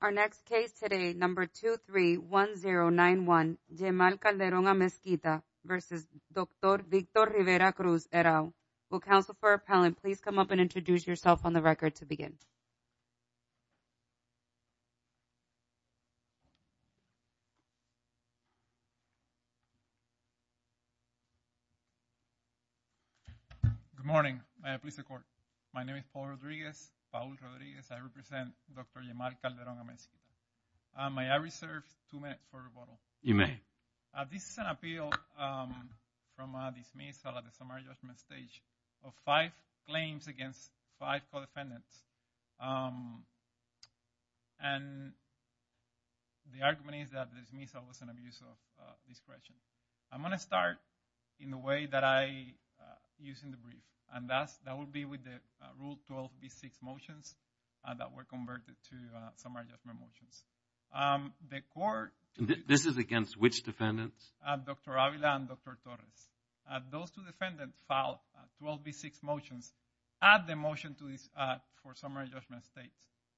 Our next case today, number 231091, Yemal Calderon-Amezquita v. Dr. Victor Rivera-Cruz, ERAU. Will counsel for appellant please come up and introduce yourself on the record to begin. Good morning. My name is Paul Rodriguez. I represent Dr. Yemal Calderon-Amezquita. May I reserve two minutes for rebuttal? You may. This is an appeal from a dismissal at the summary judgment stage of five claims against five co-defendants. And the argument is that the dismissal was an abuse of discretion. I'm going to start in the way that I use in the brief. And that will be with the rule 12B6 motions that were converted to summary judgment motions. The court- This is against which defendants? Dr. Avila and Dr. Torres. Those two defendants filed 12B6 motions at the motion for summary judgment stage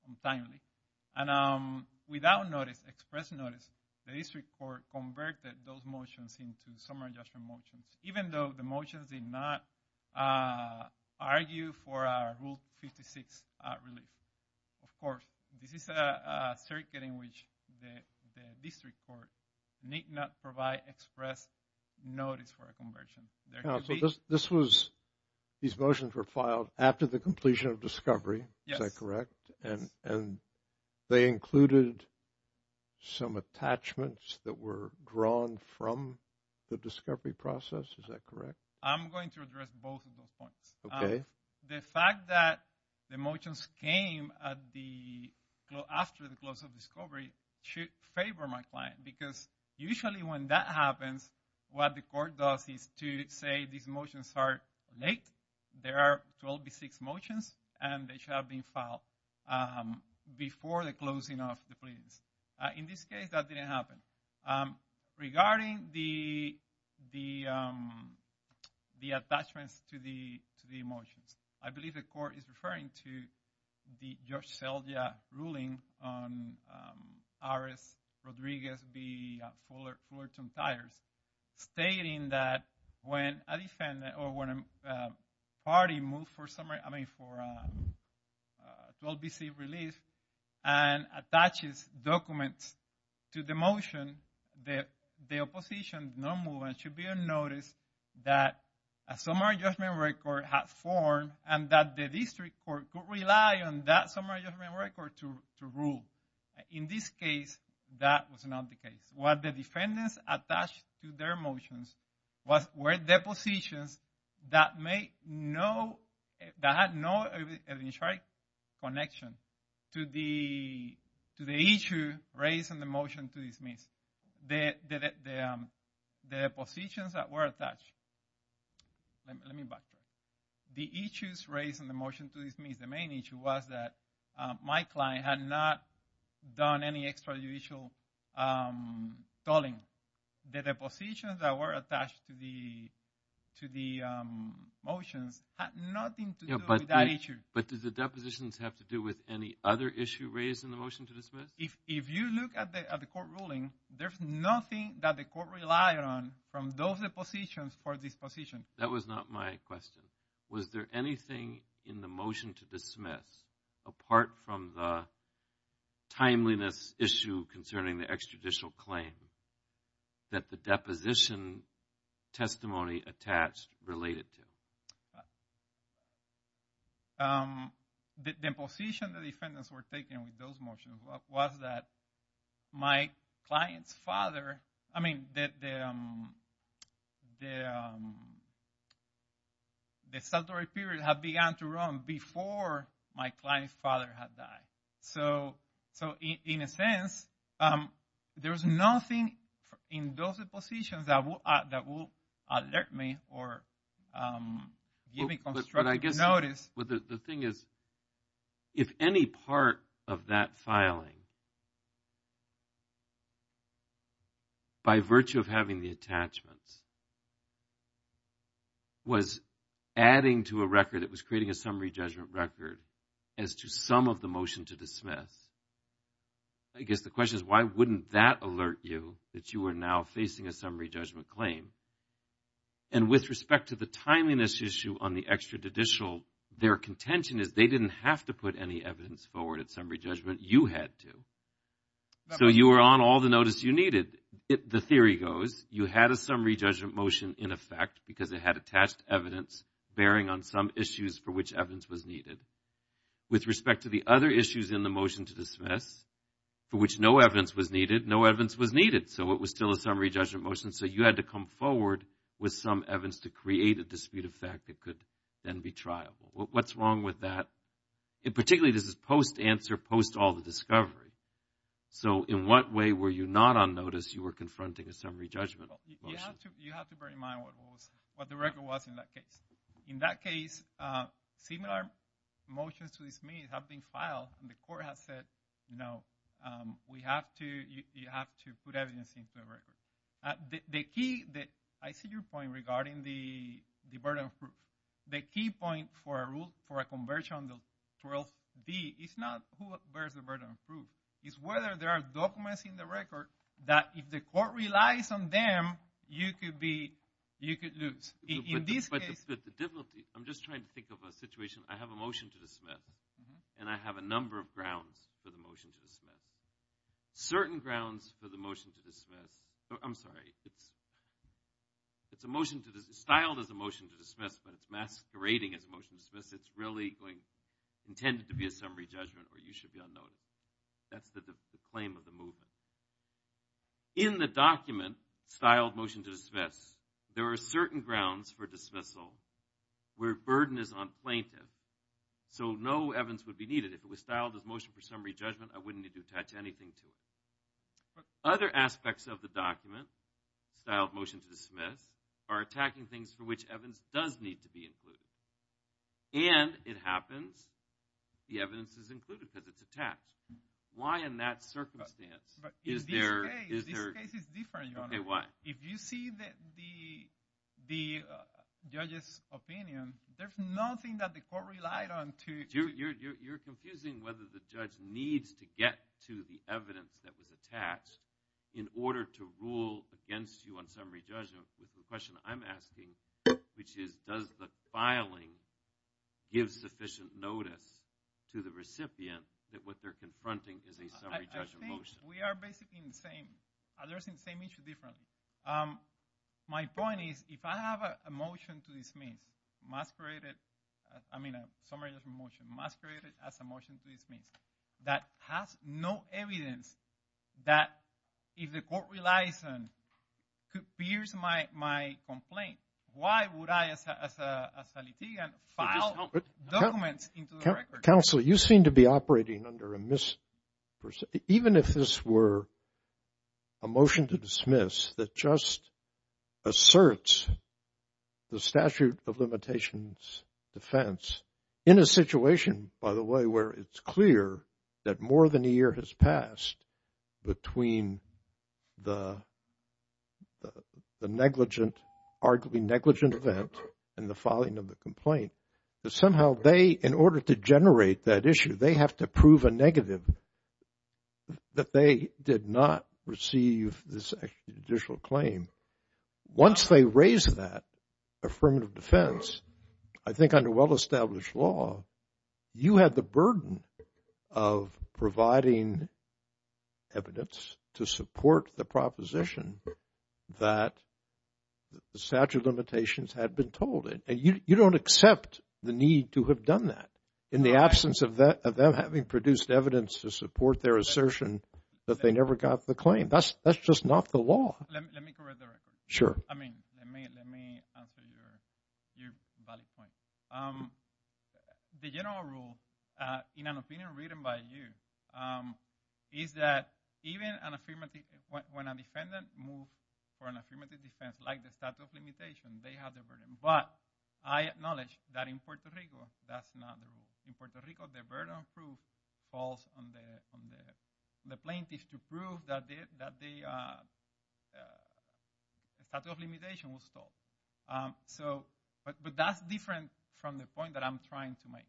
on timely. And without notice, express notice, the district court converted those motions into summary judgment motions. Even though the motions did not argue for a rule 56 relief. Of course, this is a circuit in which the district court need not provide express notice for a conversion. This was, these motions were filed after the completion of discovery, is that correct? Yes. And they included some attachments that were drawn from the discovery process, is that correct? I'm going to address both of those points. Okay. The fact that the motions came after the close of discovery should favor my client. Because usually when that happens, what the court does is to say these motions are late. There are 12B6 motions and they should have been filed before the closing of the pleadings. In this case, that didn't happen. Regarding the attachments to the motions, I believe the court is referring to the Judge Seldja ruling on RS Rodriguez v. Fullerton tires. Stating that when a defendant or when a party moves for summary, I mean for 12B6 relief and attaches documents to the motion, the opposition should be on notice that a summary judgment record has formed and that the district court could rely on that summary judgment record to rule. In this case, that was not the case. What the defendants attached to their motions were depositions that had no connection to the issue raised in the motion to dismiss. The depositions that were attached. Let me back up. The issues raised in the motion to dismiss, the main issue was that my client had not done any extrajudicial tolling. The depositions that were attached to the motions had nothing to do with that issue. But do the depositions have to do with any other issue raised in the motion to dismiss? If you look at the court ruling, there's nothing that the court relied on from those depositions for this position. That was not my question. Was there anything in the motion to dismiss apart from the timeliness issue concerning the extrajudicial claim that the deposition testimony attached related to? The position the defendants were taking with those motions was that my client's father, I mean, that the statutory period had begun to run before my client's father had died. So, in a sense, there's nothing in those depositions that will alert me or give me constructive notice. But the thing is, if any part of that filing, by virtue of having the attachments, was adding to a record that was creating a summary judgment record as to some of the motion to dismiss, I guess the question is why wouldn't that alert you that you are now facing a summary judgment claim? And with respect to the timeliness issue on the extrajudicial, their contention is they didn't have to put any evidence forward at summary judgment. You had to. So, you were on all the notice you needed. The theory goes, you had a summary judgment motion in effect because it had attached evidence bearing on some issues for which evidence was needed. With respect to the other issues in the motion to dismiss, for which no evidence was needed, no evidence was needed. So, it was still a summary judgment motion. So, you had to come forward with some evidence to create a dispute of fact that could then be trialed. What's wrong with that? And particularly, this is post-answer, post-all the discovery. So, in what way were you not on notice you were confronting a summary judgment motion? You have to bear in mind what the record was in that case. In that case, similar motions to dismiss have been filed and the court has said, no, you have to put evidence into the record. The key, I see your point regarding the burden of proof. The key point for a rule, for a conversion on the 12B is not who bears the burden of proof. It's whether there are documents in the record that if the court relies on them, you could be, you could lose. I'm just trying to think of a situation. I have a motion to dismiss and I have a number of grounds for the motion to dismiss. Certain grounds for the motion to dismiss, I'm sorry, it's a motion to dismiss, styled as a motion to dismiss, but it's masquerading as a motion to dismiss. It's really going, intended to be a summary judgment or you should be on notice. That's the claim of the movement. In the document, styled motion to dismiss, there are certain grounds for dismissal where burden is unplaintive. So no evidence would be needed. If it was styled as motion for summary judgment, I wouldn't need to attach anything to it. Other aspects of the document, styled motion to dismiss, are attacking things for which evidence does need to be included. And it happens, the evidence is included because it's attached. Why in that circumstance is there… But in this case, this case is different, Your Honor. Okay, why? If you see the judge's opinion, there's nothing that the court relied on to… You're confusing whether the judge needs to get to the evidence that was attached in order to rule against you on summary judgment. The question I'm asking, which is does the filing give sufficient notice to the recipient that what they're confronting is a summary judgment motion? I think we are basically in the same. Others are in the same issue differently. My point is if I have a motion to dismiss, masqueraded, I mean a summary judgment motion, masqueraded as a motion to dismiss, that has no evidence that if the court relies on, appears my complaint, why would I as a litigant file documents into the record? Counsel, you seem to be operating under a misperception. Even if this were a motion to dismiss that just asserts the statute of limitations defense, in a situation, by the way, where it's clear that more than a year has passed between the negligent, arguably negligent event and the filing of the complaint, that somehow they, in order to generate that issue, they have to prove a negative that they did not receive this judicial claim. Once they raise that affirmative defense, I think under well-established law, you have the burden of providing evidence to support the proposition that the statute of limitations had been told. You don't accept the need to have done that in the absence of them having produced evidence to support their assertion that they never got the claim. That's just not the law. Let me correct the record. Sure. I mean, let me answer your valid point. The general rule in an opinion written by you is that even when a defendant moves for an affirmative defense like the statute of limitations, they have the burden. But I acknowledge that in Puerto Rico, that's not the rule. In Puerto Rico, the burden of proof falls on the plaintiff to prove that the statute of limitations was told. But that's different from the point that I'm trying to make.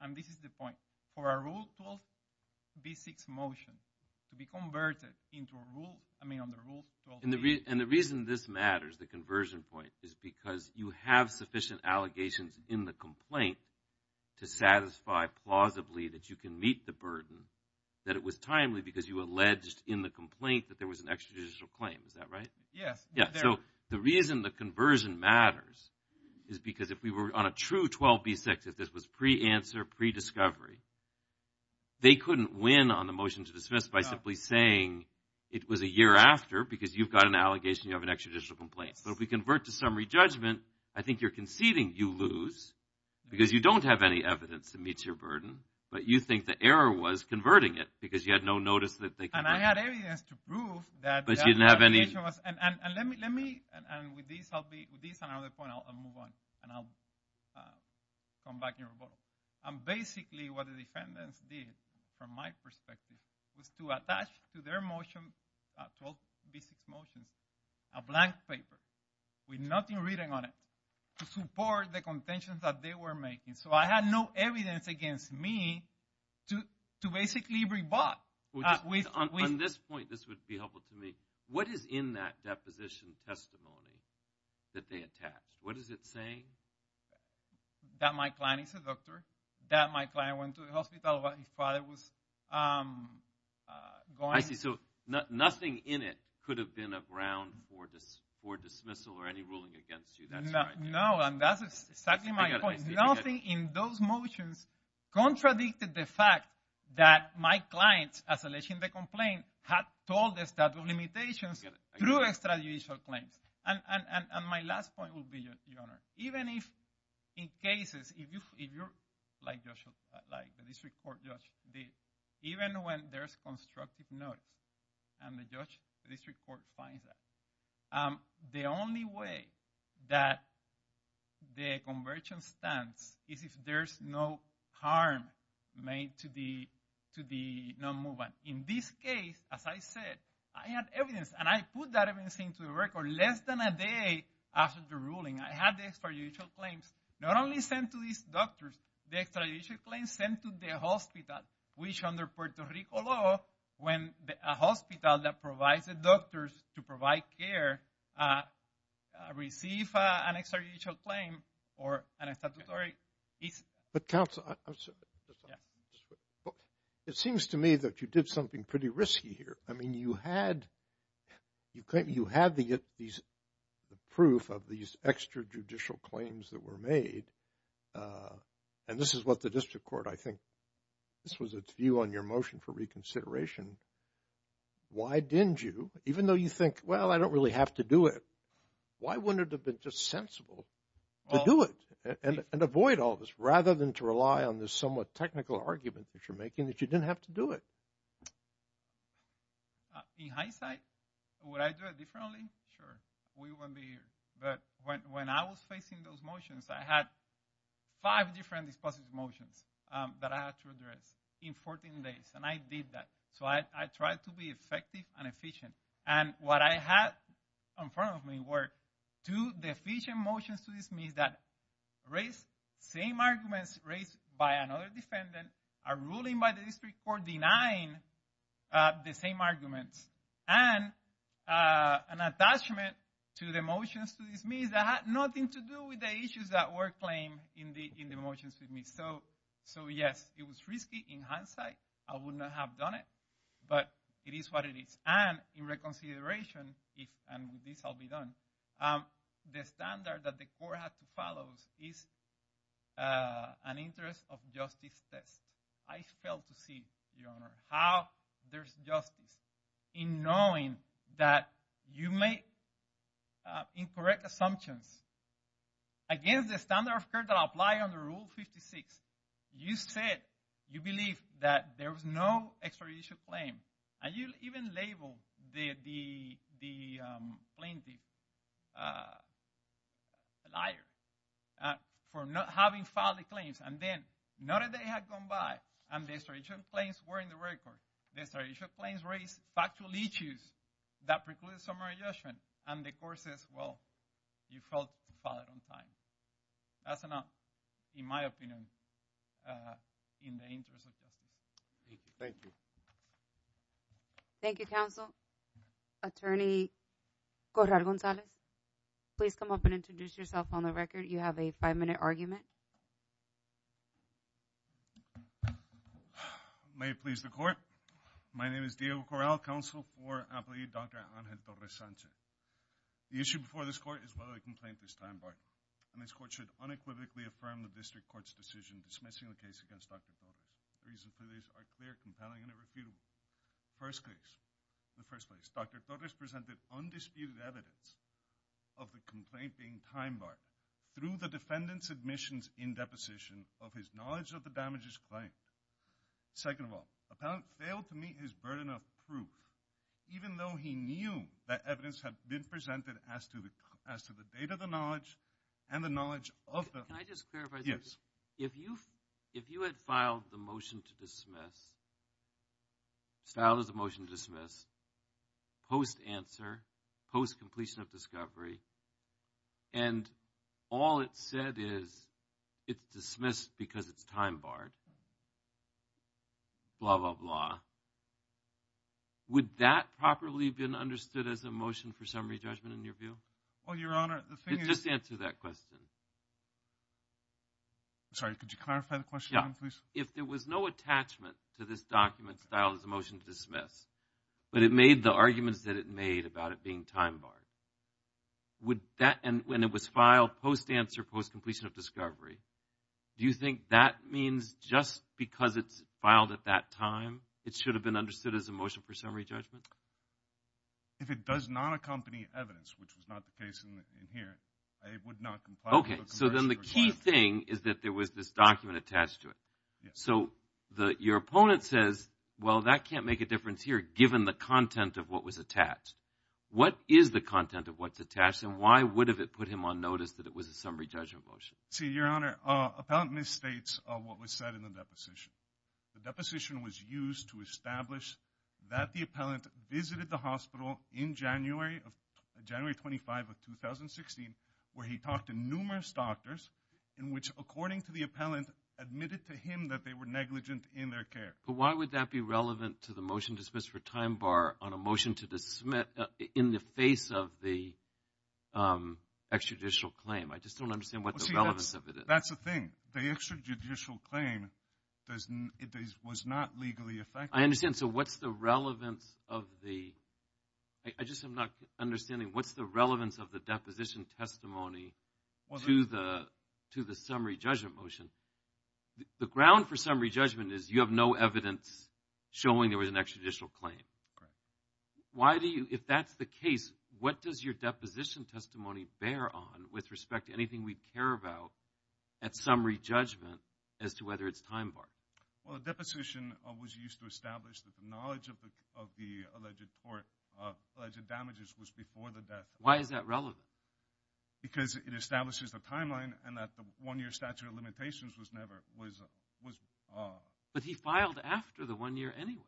And this is the point. For a Rule 12b6 motion to be converted into a rule, I mean, under Rule 12b6. And the reason this matters, the conversion point, is because you have sufficient allegations in the complaint to satisfy plausibly that you can meet the burden, that it was timely because you alleged in the complaint that there was an extrajudicial claim. Is that right? Yes. So the reason the conversion matters is because if we were on a true 12b6, if this was pre-answer, pre-discovery, they couldn't win on the motion to dismiss by simply saying it was a year after because you've got an allegation, you have an extrajudicial complaint. So if we convert to summary judgment, I think you're conceding you lose because you don't have any evidence that meets your burden, but you think the error was converting it because you had no notice that they converted. And I had evidence to prove that the allegation was. But you didn't have any. The allegation was. And let me. And with this, I'll be. With this and another point, I'll move on. And I'll come back and rebut. And basically what the defendants did from my perspective was to attach to their motion, 12b6 motions, a blank paper with nothing written on it, to support the contentions that they were making. So I had no evidence against me to basically rebut. On this point, this would be helpful to me. What is in that deposition testimony that they attached? What is it saying? That my client is a doctor, that my client went to the hospital while his father was going. I see. So nothing in it could have been a ground for dismissal or any ruling against you. No, and that's exactly my point. Nothing in those motions contradicted the fact that my client, as alleged in the complaint, had told the statute of limitations through extrajudicial claims. And my last point will be, Your Honor, even if in cases, if you're like the district court judge did, even when there's constructive notice and the district court finds that, the only way that the conversion stands is if there's no harm made to the non-movement. In this case, as I said, I had evidence. And I put that evidence into the record less than a day after the ruling. I had the extrajudicial claims not only sent to these doctors, the extrajudicial claims sent to the hospital, which under Puerto Rico law, when a hospital that provides the doctors to provide care receives an extrajudicial claim or an statutory. But counsel, it seems to me that you did something pretty risky here. I mean, you had the proof of these extrajudicial claims that were made. And this is what the district court, I think, this was its view on your motion for reconsideration. Why didn't you, even though you think, well, I don't really have to do it, why wouldn't it have been just sensible to do it and avoid all this rather than to rely on this somewhat technical argument that you're making that you didn't have to do it? In hindsight, would I do it differently? Sure. We wouldn't be here. But when I was facing those motions, I had five different dispositive motions that I had to address in 14 days. And I did that. So I tried to be effective and efficient. And what I had in front of me were two deficient motions to dismiss that raised the same arguments raised by another defendant, a ruling by the district court denying the same arguments, and an attachment to the motions to dismiss that had nothing to do with the issues that were claimed in the motions to dismiss. So, yes, it was risky in hindsight. I would not have done it. But it is what it is. And in reconsideration, and this will be done, the standard that the court has to follow is an interest of justice test. I failed to see, Your Honor, how there's justice in knowing that you make incorrect assumptions. Against the standard of care that apply under Rule 56, you said you believe that there was no extrajudicial claim. And you even labeled the plaintiff a liar for not having filed the claims. And then not a day had gone by and the extrajudicial claims were in the record. The extrajudicial claims raised factual issues that precluded summary judgment. And the court says, well, you failed to file it on time. That's enough, in my opinion, in the interest of justice. Thank you. Thank you, counsel. Attorney Corral-Gonzalez, please come up and introduce yourself on the record. You have a five-minute argument. May it please the court. My name is Diego Corral, counsel for employee Dr. Angel Torres-Sanchez. The issue before this court is whether the complaint is time barred. And this court should unequivocally affirm the district court's decision dismissing the case against Dr. Torres. The reasons for this are clear, compelling, and irrefutable. First case. In the first place, Dr. Torres presented undisputed evidence of the complaint being time barred through the defendant's admissions in deposition of his knowledge of the damages claimed. Second of all, the defendant failed to meet his burden of proof, even though he knew that evidence had been presented as to the date of the knowledge and the knowledge of the – Can I just clarify something? Yes. If you had filed the motion to dismiss, filed as a motion to dismiss, post-answer, post-completion of discovery, and all it said is it's dismissed because it's time barred, blah, blah, blah, would that properly have been understood as a motion for summary judgment in your view? Well, Your Honor, the thing is – Just answer that question. I'm sorry. Could you clarify the question again, please? Yeah. If there was no attachment to this document filed as a motion to dismiss, but it made the arguments that it made about it being time barred, would that – and it was filed post-answer, post-completion of discovery, do you think that means just because it's filed at that time, it should have been understood as a motion for summary judgment? If it does not accompany evidence, which was not the case in here, I would not comply with the Congressional – Okay. So then the key thing is that there was this document attached to it. Yes. So your opponent says, well, that can't make a difference here, given the content of what was attached. What is the content of what's attached, and why would it have put him on notice that it was a summary judgment motion? See, Your Honor, appellant misstates what was said in the deposition. The deposition was used to establish that the appellant visited the hospital in January of – January 25 of 2016, where he talked to numerous doctors, in which, according to the appellant, admitted to him that they were negligent in their care. But why would that be relevant to the motion to dismiss for time bar on a motion to dismiss in the face of the extrajudicial claim? I just don't understand what the relevance of it is. That's the thing. The extrajudicial claim was not legally effective. I understand. So what's the relevance of the – I just am not understanding. What's the relevance of the deposition testimony to the summary judgment motion? The ground for summary judgment is you have no evidence showing there was an extrajudicial claim. Correct. Why do you – if that's the case, what does your deposition testimony bear on with respect to anything we'd care about at summary judgment as to whether it's time bar? Well, the deposition was used to establish that the knowledge of the alleged tort – alleged damages was before the death. Why is that relevant? Because it establishes the timeline and that the one-year statute of limitations was never – was – But he filed after the one year anyway.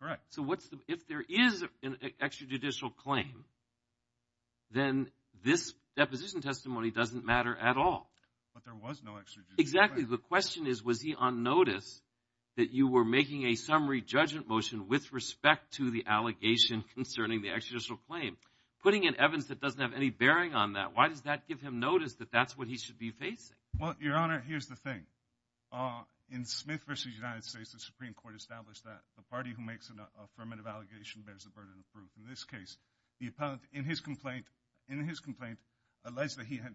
Correct. So what's the – if there is an extrajudicial claim, then this deposition testimony doesn't matter at all. But there was no extrajudicial claim. Exactly. The question is, was he on notice that you were making a summary judgment motion with respect to the allegation concerning the extrajudicial claim? Putting in evidence that doesn't have any bearing on that, why does that give him notice that that's what he should be facing? Well, Your Honor, here's the thing. In Smith v. United States, the Supreme Court established that the party who makes an affirmative allegation bears the burden of proof. In this case, the appellant, in his complaint, in his complaint alleged that he had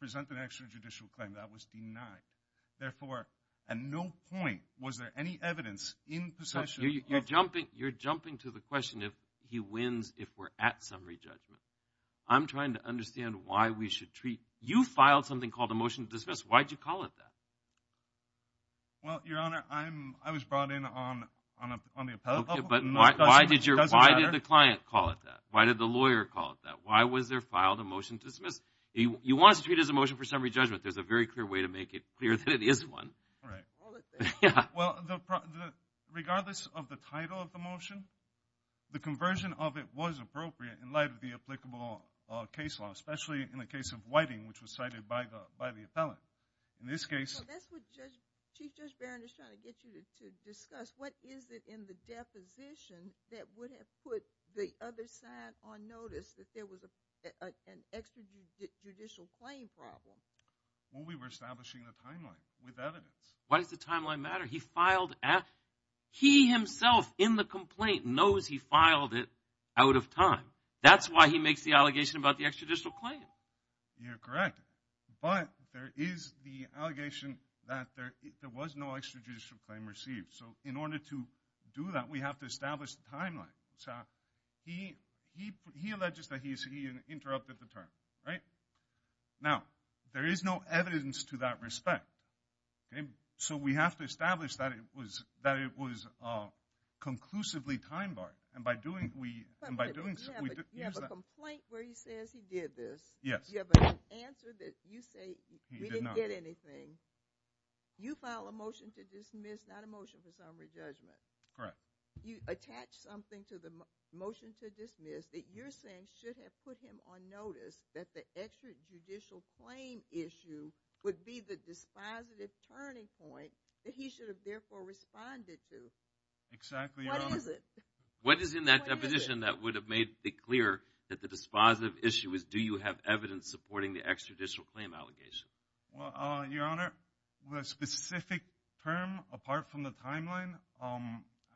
presented an extrajudicial claim. That was denied. Therefore, at no point was there any evidence in possession – You're jumping to the question if he wins if we're at summary judgment. I'm trying to understand why we should treat – you filed something called a motion to dismiss. Why did you call it that? Well, Your Honor, I was brought in on the appellate level. Okay, but why did the client call it that? Why did the lawyer call it that? Why was there filed a motion to dismiss? You want us to treat it as a motion for summary judgment. There's a very clear way to make it clear that it is one. Right. Well, regardless of the title of the motion, the conversion of it was appropriate in light of the applicable case law, especially in the case of Whiting, which was cited by the appellant. In this case – That's what Chief Judge Barron is trying to get you to discuss. What is it in the deposition that would have put the other side on notice that there was an extrajudicial claim problem? Well, we were establishing a timeline with evidence. Why does the timeline matter? He himself, in the complaint, knows he filed it out of time. That's why he makes the allegation about the extrajudicial claim. You're correct. But there is the allegation that there was no extrajudicial claim received. So in order to do that, we have to establish the timeline. So he alleges that he interrupted the term, right? Now, there is no evidence to that respect. So we have to establish that it was conclusively time-barred. And by doing so, we use that. You have a complaint where he says he did this. Yes. You have an answer that you say he didn't get anything. You file a motion to dismiss, not a motion for summary judgment. Correct. You attach something to the motion to dismiss that you're saying should have put him on notice that the extrajudicial claim issue would be the dispositive turning point that he should have, therefore, responded to. Exactly, Your Honor. What is it? What is in that deposition that would have made it clear that the dispositive issue is do you have evidence supporting the extrajudicial claim allegation? Well, Your Honor, with a specific term apart from the timeline,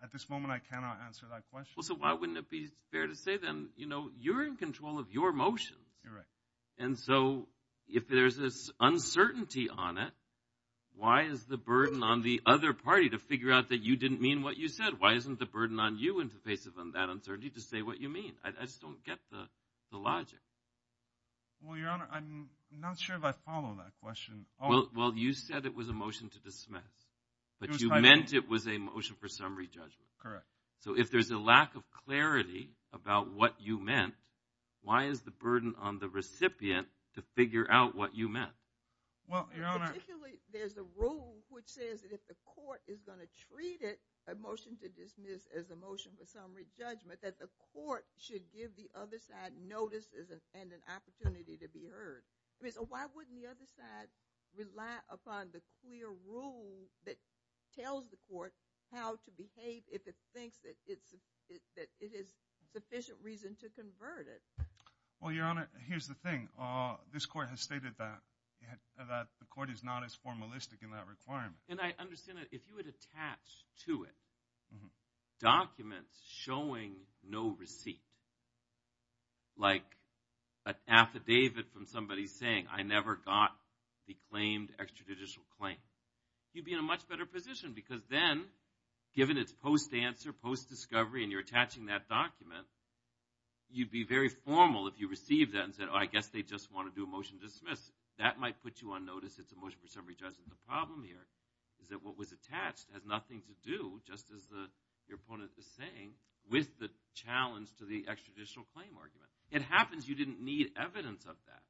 at this moment I cannot answer that question. Well, so why wouldn't it be fair to say then, you know, you're in control of your motions. You're right. And so if there's this uncertainty on it, why is the burden on the other party to figure out that you didn't mean what you said? Why isn't the burden on you in the face of that uncertainty to say what you mean? I just don't get the logic. Well, Your Honor, I'm not sure if I follow that question. Well, you said it was a motion to dismiss, but you meant it was a motion for summary judgment. Correct. So if there's a lack of clarity about what you meant, why is the burden on the recipient to figure out what you meant? Well, Your Honor. Particularly there's a rule which says that if the court is going to treat it, a motion to dismiss as a motion for summary judgment, that the court should give the other side notice and an opportunity to be heard. So why wouldn't the other side rely upon the clear rule that tells the court how to behave if it thinks that it is sufficient reason to convert it? Well, Your Honor, here's the thing. This court has stated that the court is not as formalistic in that requirement. And I understand that if you would attach to it documents showing no receipt, like an affidavit from somebody saying I never got the claimed extrajudicial claim, you'd be in a much better position because then given its post-answer, post-discovery, and you're attaching that document, you'd be very formal if you received that and said, oh, I guess they just want to do a motion to dismiss. That might put you on notice it's a motion for summary judgment. The problem here is that what was attached has nothing to do, just as your opponent is saying, with the challenge to the extrajudicial claim argument. It happens you didn't need evidence of that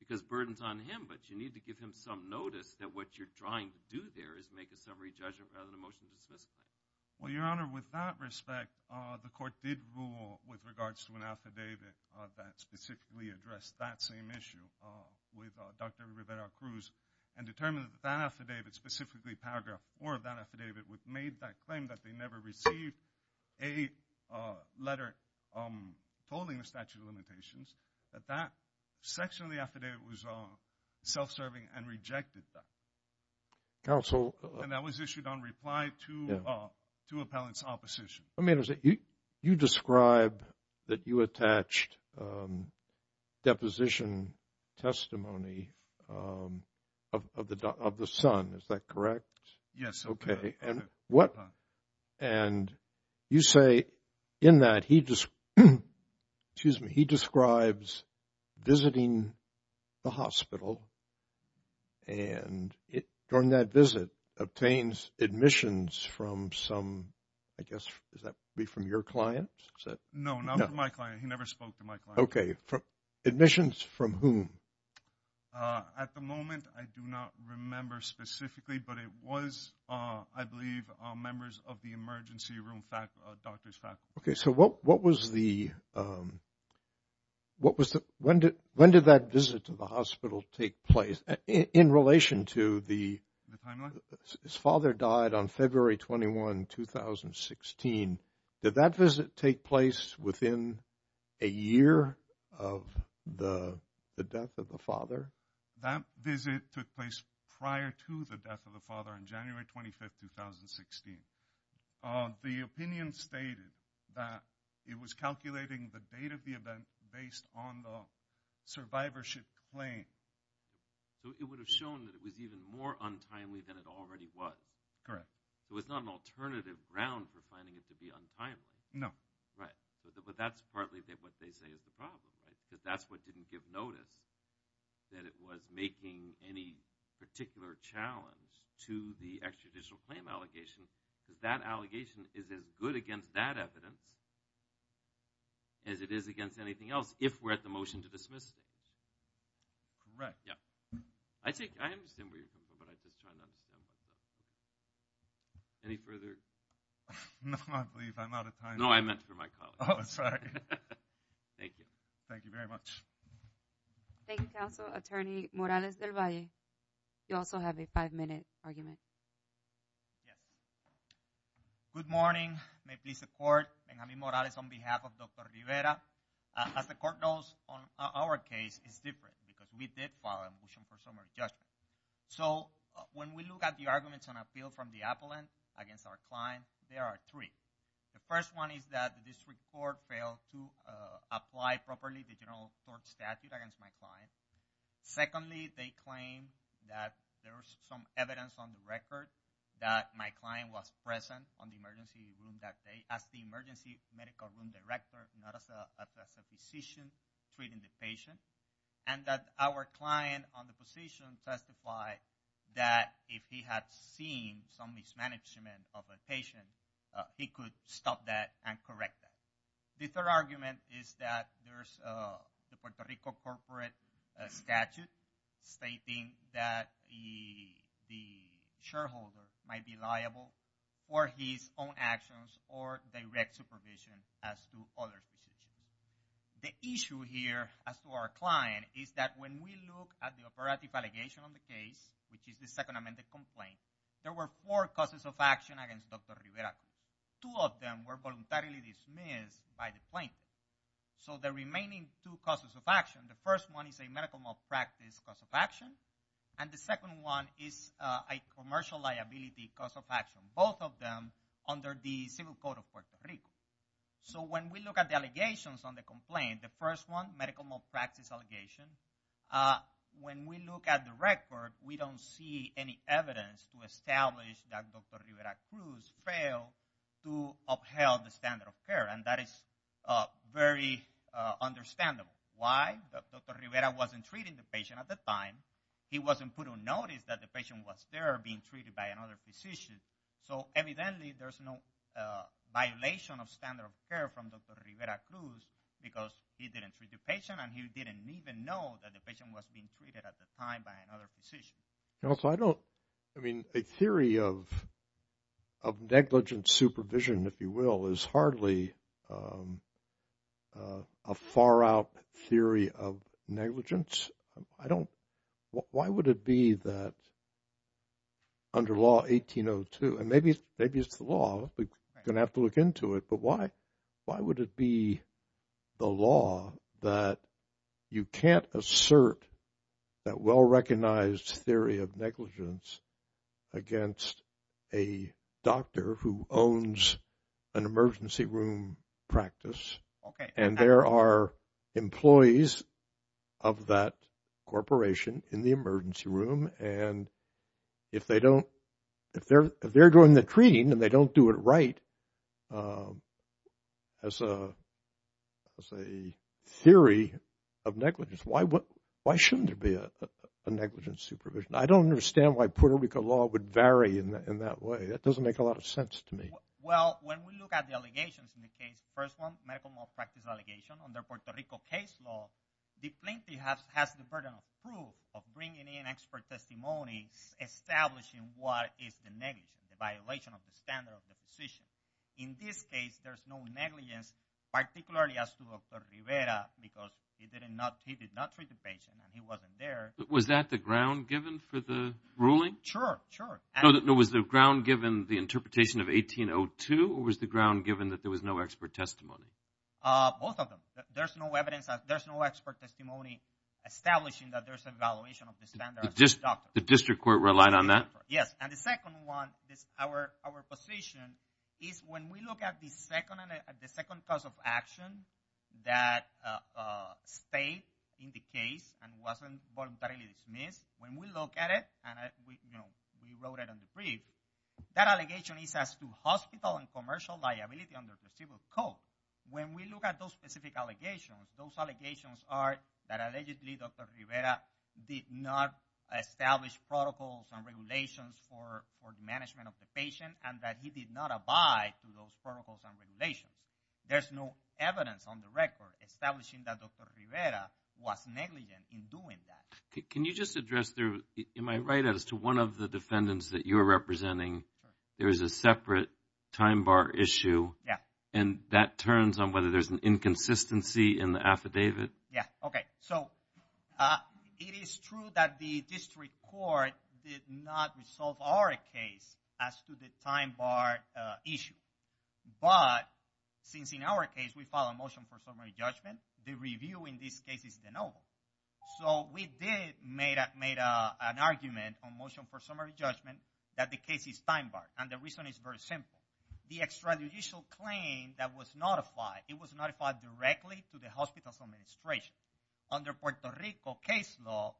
because burden's on him, but you need to give him some notice that what you're trying to do there is make a summary judgment rather than a motion to dismiss. Well, Your Honor, with that respect, the court did rule with regards to an affidavit that specifically addressed that same issue with Dr. Rivera-Cruz and determined that that affidavit specifically, paragraph 4 of that affidavit, made that claim that they never received a letter told in the statute of limitations, that that section of the affidavit was self-serving and rejected that. Counsel. And that was issued on reply to appellant's opposition. You describe that you attached deposition testimony of the son. Is that correct? Yes. Okay. And you say in that he describes visiting the hospital and during that visit, obtains admissions from some, I guess, is that from your client? No, not from my client. He never spoke to my client. Okay. Admissions from whom? At the moment, I do not remember specifically, but it was, I believe, members of the emergency room doctor's faculty. Okay. So what was the, when did that visit to the hospital take place? In relation to the, his father died on February 21, 2016. Did that visit take place within a year of the death of the father? That visit took place prior to the death of the father on January 25, 2016. The opinion stated that it was calculating the date of the event based on the survivorship claim. So it would have shown that it was even more untimely than it already was. Correct. So it's not an alternative ground for finding it to be untimely. No. Right. But that's partly what they say is the problem, right? That that's what didn't give notice, that it was making any particular challenge to the extrajudicial claim allegation because that allegation is as good against that evidence as it is against anything else if we're at the motion to dismiss it. Correct. Yeah. I take, I understand where you're coming from, but I'm just trying to understand. Any further? No, I believe I'm out of time. No, I meant for my colleagues. Oh, sorry. Thank you. Thank you very much. Thank you, Counsel. Attorney Morales del Valle, you also have a five-minute argument. Yeah. Good morning. May it please the Court. Benjamin Morales on behalf of Dr. Rivera. As the Court knows on our case, it's different because we did file a motion for summary judgment. So when we look at the arguments on appeal from the appellant against our client, there are three. The first one is that the district court failed to apply properly the general court statute against my client. Secondly, they claim that there was some evidence on the record that my client was present on the emergency room that day as the emergency medical room director, not as a physician treating the patient, and that our client on the position testified that if he had seen some mismanagement of a patient, he could stop that and correct that. The third argument is that there's the Puerto Rico corporate statute stating that the shareholder might be liable for his own actions or direct supervision as to other physicians. The issue here as to our client is that when we look at the operative allegation on the case, which is the second amended complaint, there were four causes of action against Dr. Rivera. Two of them were voluntarily dismissed by the plaintiff. So the remaining two causes of action, the first one is a medical malpractice cause of action, and the second one is a commercial liability cause of action. Both of them under the civil code of Puerto Rico. So when we look at the allegations on the complaint, the first one, medical malpractice allegation, when we look at the record, we don't see any evidence to establish that Dr. Rivera Cruz failed to upheld the standard of care, and that is very understandable. Why? Dr. Rivera wasn't treating the patient at the time. He wasn't put on notice that the patient was there being treated by another physician. So evidently there's no violation of standard of care from Dr. Rivera Cruz because he didn't treat the patient, and he didn't even know that the patient was being treated at the time by another physician. I mean, a theory of negligent supervision, if you will, is hardly a far-out theory of negligence. Why would it be that under law 1802, and maybe it's the law, we're going to have to look into it, but why would it be the law that you can't assert that well-recognized theory of negligence against a doctor who owns an emergency room practice, and there are employees of that corporation in the emergency room, and if they're doing the treating and they don't do it right as a theory of negligence, why shouldn't there be a negligent supervision? I don't understand why Puerto Rico law would vary in that way. That doesn't make a lot of sense to me. Well, when we look at the allegations in the case, the first one, medical malpractice allegation, under Puerto Rico case law, the plaintiff has the burden of proof, of bringing in expert testimony establishing what is the negligence, the violation of the standard of the physician. In this case, there's no negligence, particularly as to Dr. Rivera, because he did not treat the patient and he wasn't there. Was that the ground given for the ruling? Sure, sure. No, was the ground given the interpretation of 1802, or was the ground given that there was no expert testimony? Both of them. There's no expert testimony establishing that there's an evaluation of the standard of the doctor. The district court relied on that? Yes. And the second one, our position is when we look at the second cause of action that stayed in the case and wasn't voluntarily dismissed, when we look at it, and we wrote it in the brief, that allegation is as to hospital and commercial liability under placebo code. When we look at those specific allegations, those allegations are that allegedly Dr. Rivera did not establish protocols and regulations for the management of the patient, and that he did not abide to those protocols and regulations. There's no evidence on the record establishing that Dr. Rivera was negligent in doing that. Can you just address, am I right as to one of the defendants that you're representing, there's a separate time bar issue, and that turns on whether there's an inconsistency in the affidavit? Yeah, okay. So it is true that the district court did not resolve our case as to the time bar issue, but since in our case we file a motion for summary judgment, the review in this case is de novo. So we did make an argument on motion for summary judgment that the case is time bar, and the reason is very simple. The extrajudicial claim that was notified, it was notified directly to the hospital's administration. Under Puerto Rico case law,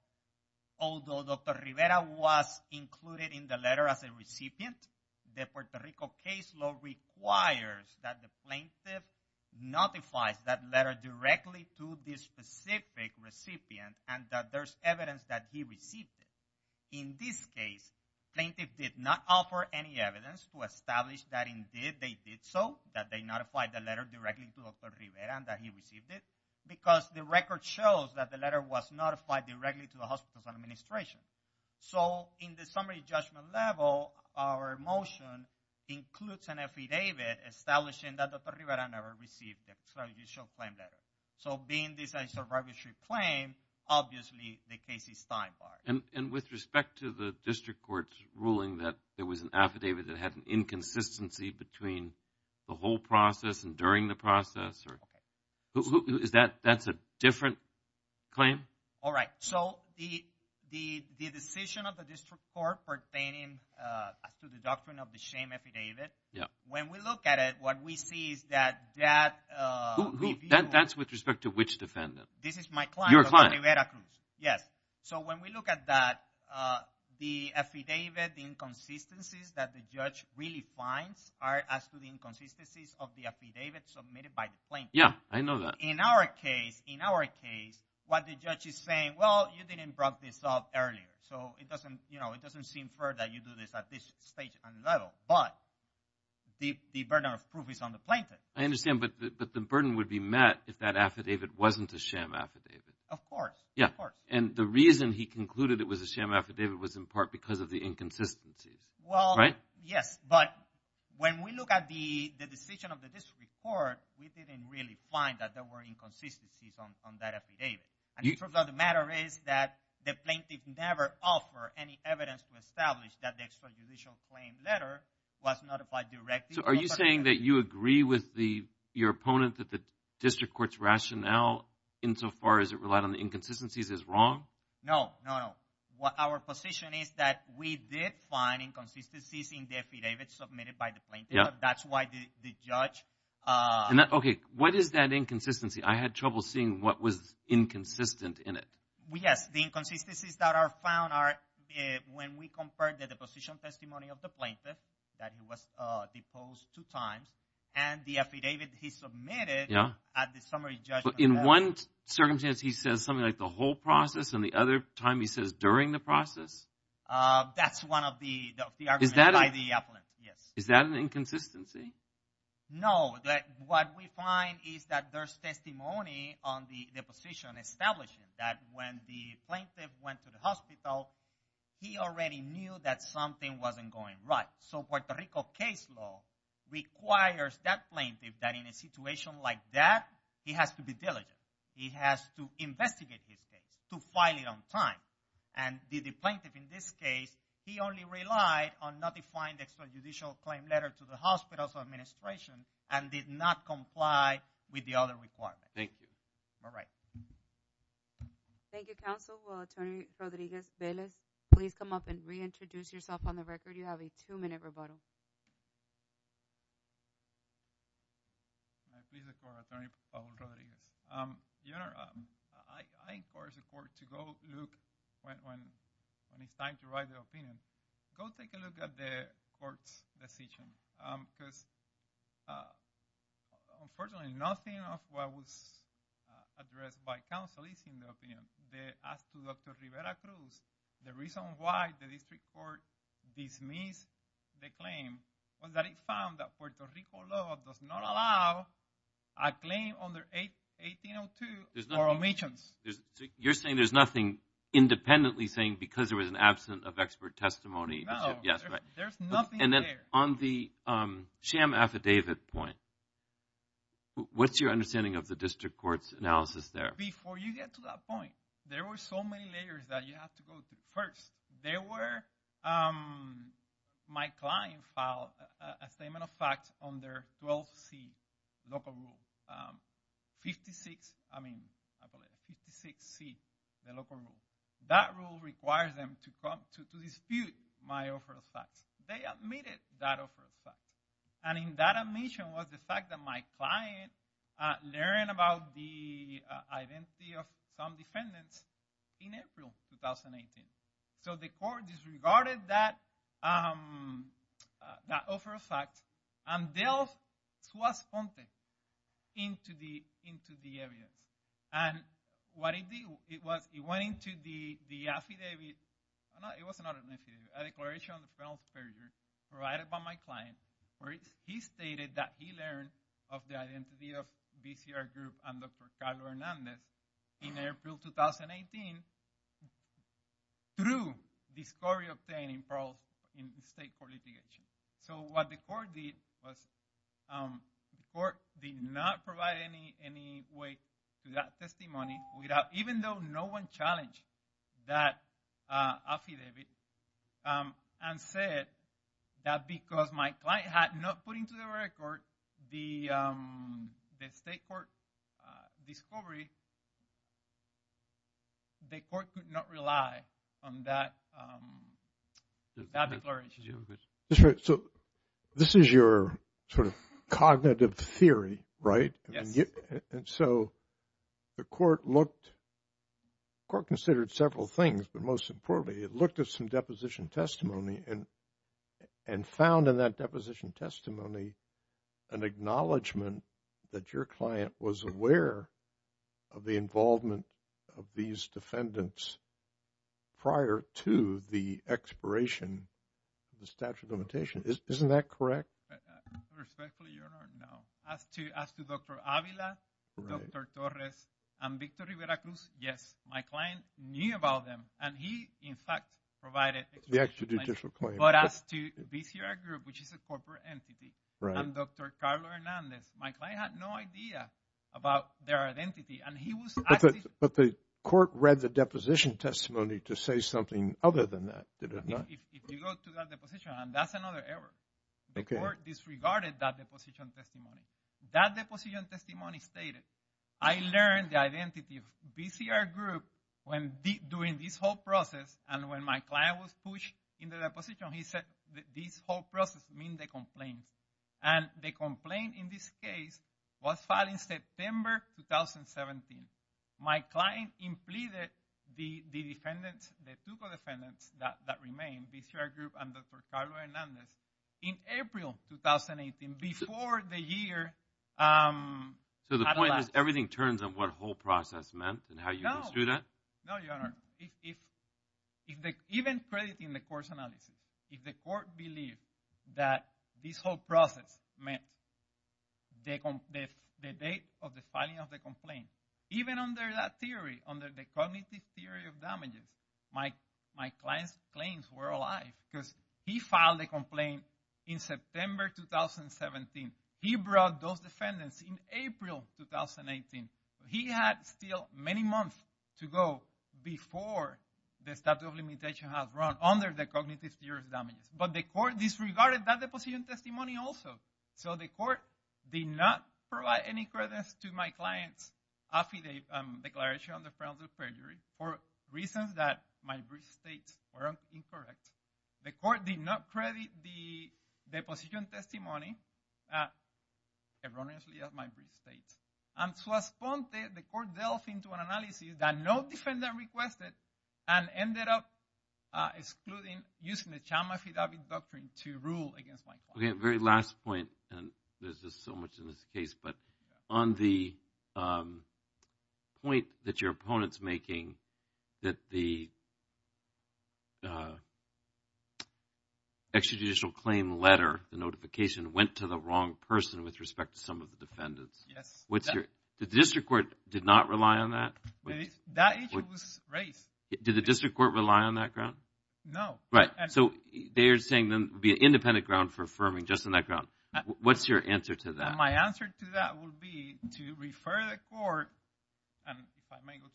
although Dr. Rivera was included in the letter as a recipient, the Puerto Rico case law requires that the plaintiff notifies that letter directly to the specific recipient and that there's evidence that he received it. In this case, plaintiff did not offer any evidence to establish that indeed they did so, that they notified the letter directly to Dr. Rivera and that he received it, because the record shows that the letter was notified directly to the hospital's administration. So in the summary judgment level, our motion includes an affidavit establishing that Dr. Rivera never received the extrajudicial claim letter. So being this is a registry claim, obviously the case is time bar. And with respect to the district court's ruling that there was an affidavit that had an inconsistency between the whole process and during the process, is that a different claim? All right. So the decision of the district court pertaining to the doctrine of the shame affidavit, when we look at it, what we see is that that's with respect to which defendant? This is my client. Your client. Yes. So when we look at that, the affidavit, the inconsistencies that the judge really finds are as to the inconsistencies of the affidavit submitted by the plaintiff. Yeah, I know that. In our case, what the judge is saying, well, you didn't brought this up earlier. So it doesn't seem fair that you do this at this stage and level. But the burden of proof is on the plaintiff. I understand. But the burden would be met if that affidavit wasn't a shame affidavit. Of course. Yeah. And the reason he concluded it was a shame affidavit was in part because of the inconsistencies. Well, yes, but when we look at the decision of the district court, we didn't really find that there were inconsistencies on that affidavit. And the truth of the matter is that the plaintiff never offered any evidence to establish that the extrajudicial claim letter was not applied directly. So are you saying that you agree with your opponent that the district court's rationale insofar as it relied on the inconsistencies is wrong? No, no, no. Our position is that we did find inconsistencies in the affidavit submitted by the plaintiff. That's why the judge – Okay, what is that inconsistency? I had trouble seeing what was inconsistent in it. Yes, the inconsistencies that are found are when we compared the deposition testimony of the plaintiff that he was deposed two times and the affidavit he submitted at the summary judgment. But in one circumstance he says something like the whole process and the other time he says during the process? That's one of the arguments by the opponent, yes. Is that an inconsistency? No, what we find is that there's testimony on the deposition establishing that when the plaintiff went to the hospital he already knew that something wasn't going right. So Puerto Rico case law requires that plaintiff that in a situation like that he has to be diligent. He has to investigate his case, to file it on time. And the plaintiff in this case, he only relied on notifying the extrajudicial claim letter to the hospital's administration and did not comply with the other requirements. Thank you. All right. Thank you, Counsel. Attorney Rodriguez-Velez, please come up and reintroduce yourself on the record. You have a two-minute rebuttal. My name is Attorney Paul Rodriguez. Your Honor, I encourage the court to go look when it's time to write their opinion. Go take a look at the court's decision. Because, unfortunately, nothing of what was addressed by counsel is in the opinion. As to Dr. Rivera Cruz, the reason why the district court dismissed the claim was that it found that Puerto Rico law does not allow a claim under 1802 for omissions. You're saying there's nothing independently saying because there was an absent of expert testimony. No, there's nothing there. On the sham affidavit point, what's your understanding of the district court's analysis there? Before you get to that point, there were so many layers that you have to go through. First, my client filed a statement of facts under 12C, local rule, 56C, the local rule. That rule requires them to dispute my offer of facts. They admitted that offer of facts. And in that admission was the fact that my client learned about the identity of some defendants in April 2018. So the court disregarded that offer of facts and delved suas fonte into the evidence. And what it did was it went into the affidavit. It was not an affidavit. A declaration on the penalty period provided by my client where he stated that he learned of the identity of VCR group and Dr. Carlos Hernandez in April 2018 through discovery obtained in state court litigation. So what the court did was the court did not provide any way to that testimony. Even though no one challenged that affidavit and said that because my client had not put into the record the state court discovery, the court could not rely on that declaration. So this is your sort of cognitive theory, right? And so the court looked, the court considered several things, but most importantly, it looked at some deposition testimony and found in that deposition testimony an acknowledgement that your client was aware of the involvement of these defendants prior to the expiration of the statute of limitation. Isn't that correct? Respectfully, Your Honor, no. As to Dr. Avila, Dr. Torres, and Victor Rivera Cruz, yes, my client knew about them. And he, in fact, provided the extrajudicial claim. But as to VCR group, which is a corporate entity, and Dr. Carlos Hernandez, my client had no idea about their identity. But the court read the deposition testimony to say something other than that, did it not? If you go to that deposition, that's another error. The court disregarded that deposition testimony. That deposition testimony stated, I learned the identity of VCR group when doing this whole process. And when my client was pushed in the deposition, he said, this whole process means the complaint. And the complaint in this case was filed in September 2017. My client implicated the defendants, the two co-defendants that remained, VCR group and Dr. Carlos Hernandez, in April 2018, before the year… So the point is, everything turns on what whole process meant and how you understood that? No, Your Honor. Even crediting the court's analysis, if the court believed that this whole process meant the date of the filing of the complaint, even under that theory, under the cognitive theory of damages, my client's claims were alive. Because he filed a complaint in September 2017. He brought those defendants in April 2018. He had still many months to go before the statute of limitations had run under the cognitive theory of damages. But the court disregarded that deposition testimony also. So the court did not provide any credence to my client's affidavit, declaration on the grounds of perjury, for reasons that my brief state were incorrect. The court did not credit the deposition testimony erroneously as my brief state. And so the court delved into an analysis that no defendant requested, and ended up excluding using the Chalma Affidavit Doctrine to rule against my client. Okay, very last point, and there's just so much in this case, but on the point that your opponent's making, that the extrajudicial claim letter, the notification, went to the wrong person with respect to some of the defendants. The district court did not rely on that? That issue was raised. Did the district court rely on that ground? No. Right, so they're saying then it would be an independent ground for affirming, just on that ground. What's your answer to that? My answer to that would be to refer the court, and if I may go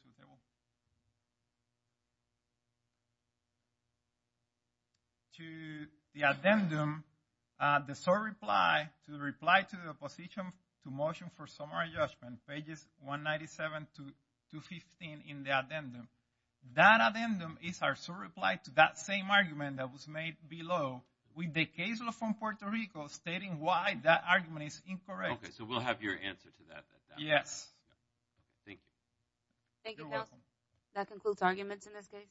to the table, to the addendum, the sole reply to the position to motion for summary judgment, pages 197 to 215 in the addendum. That addendum is our sole reply to that same argument that was made below, with the case law from Puerto Rico stating why that argument is incorrect. Okay, so we'll have your answer to that. Yes. Thank you. You're welcome. That concludes arguments in this case.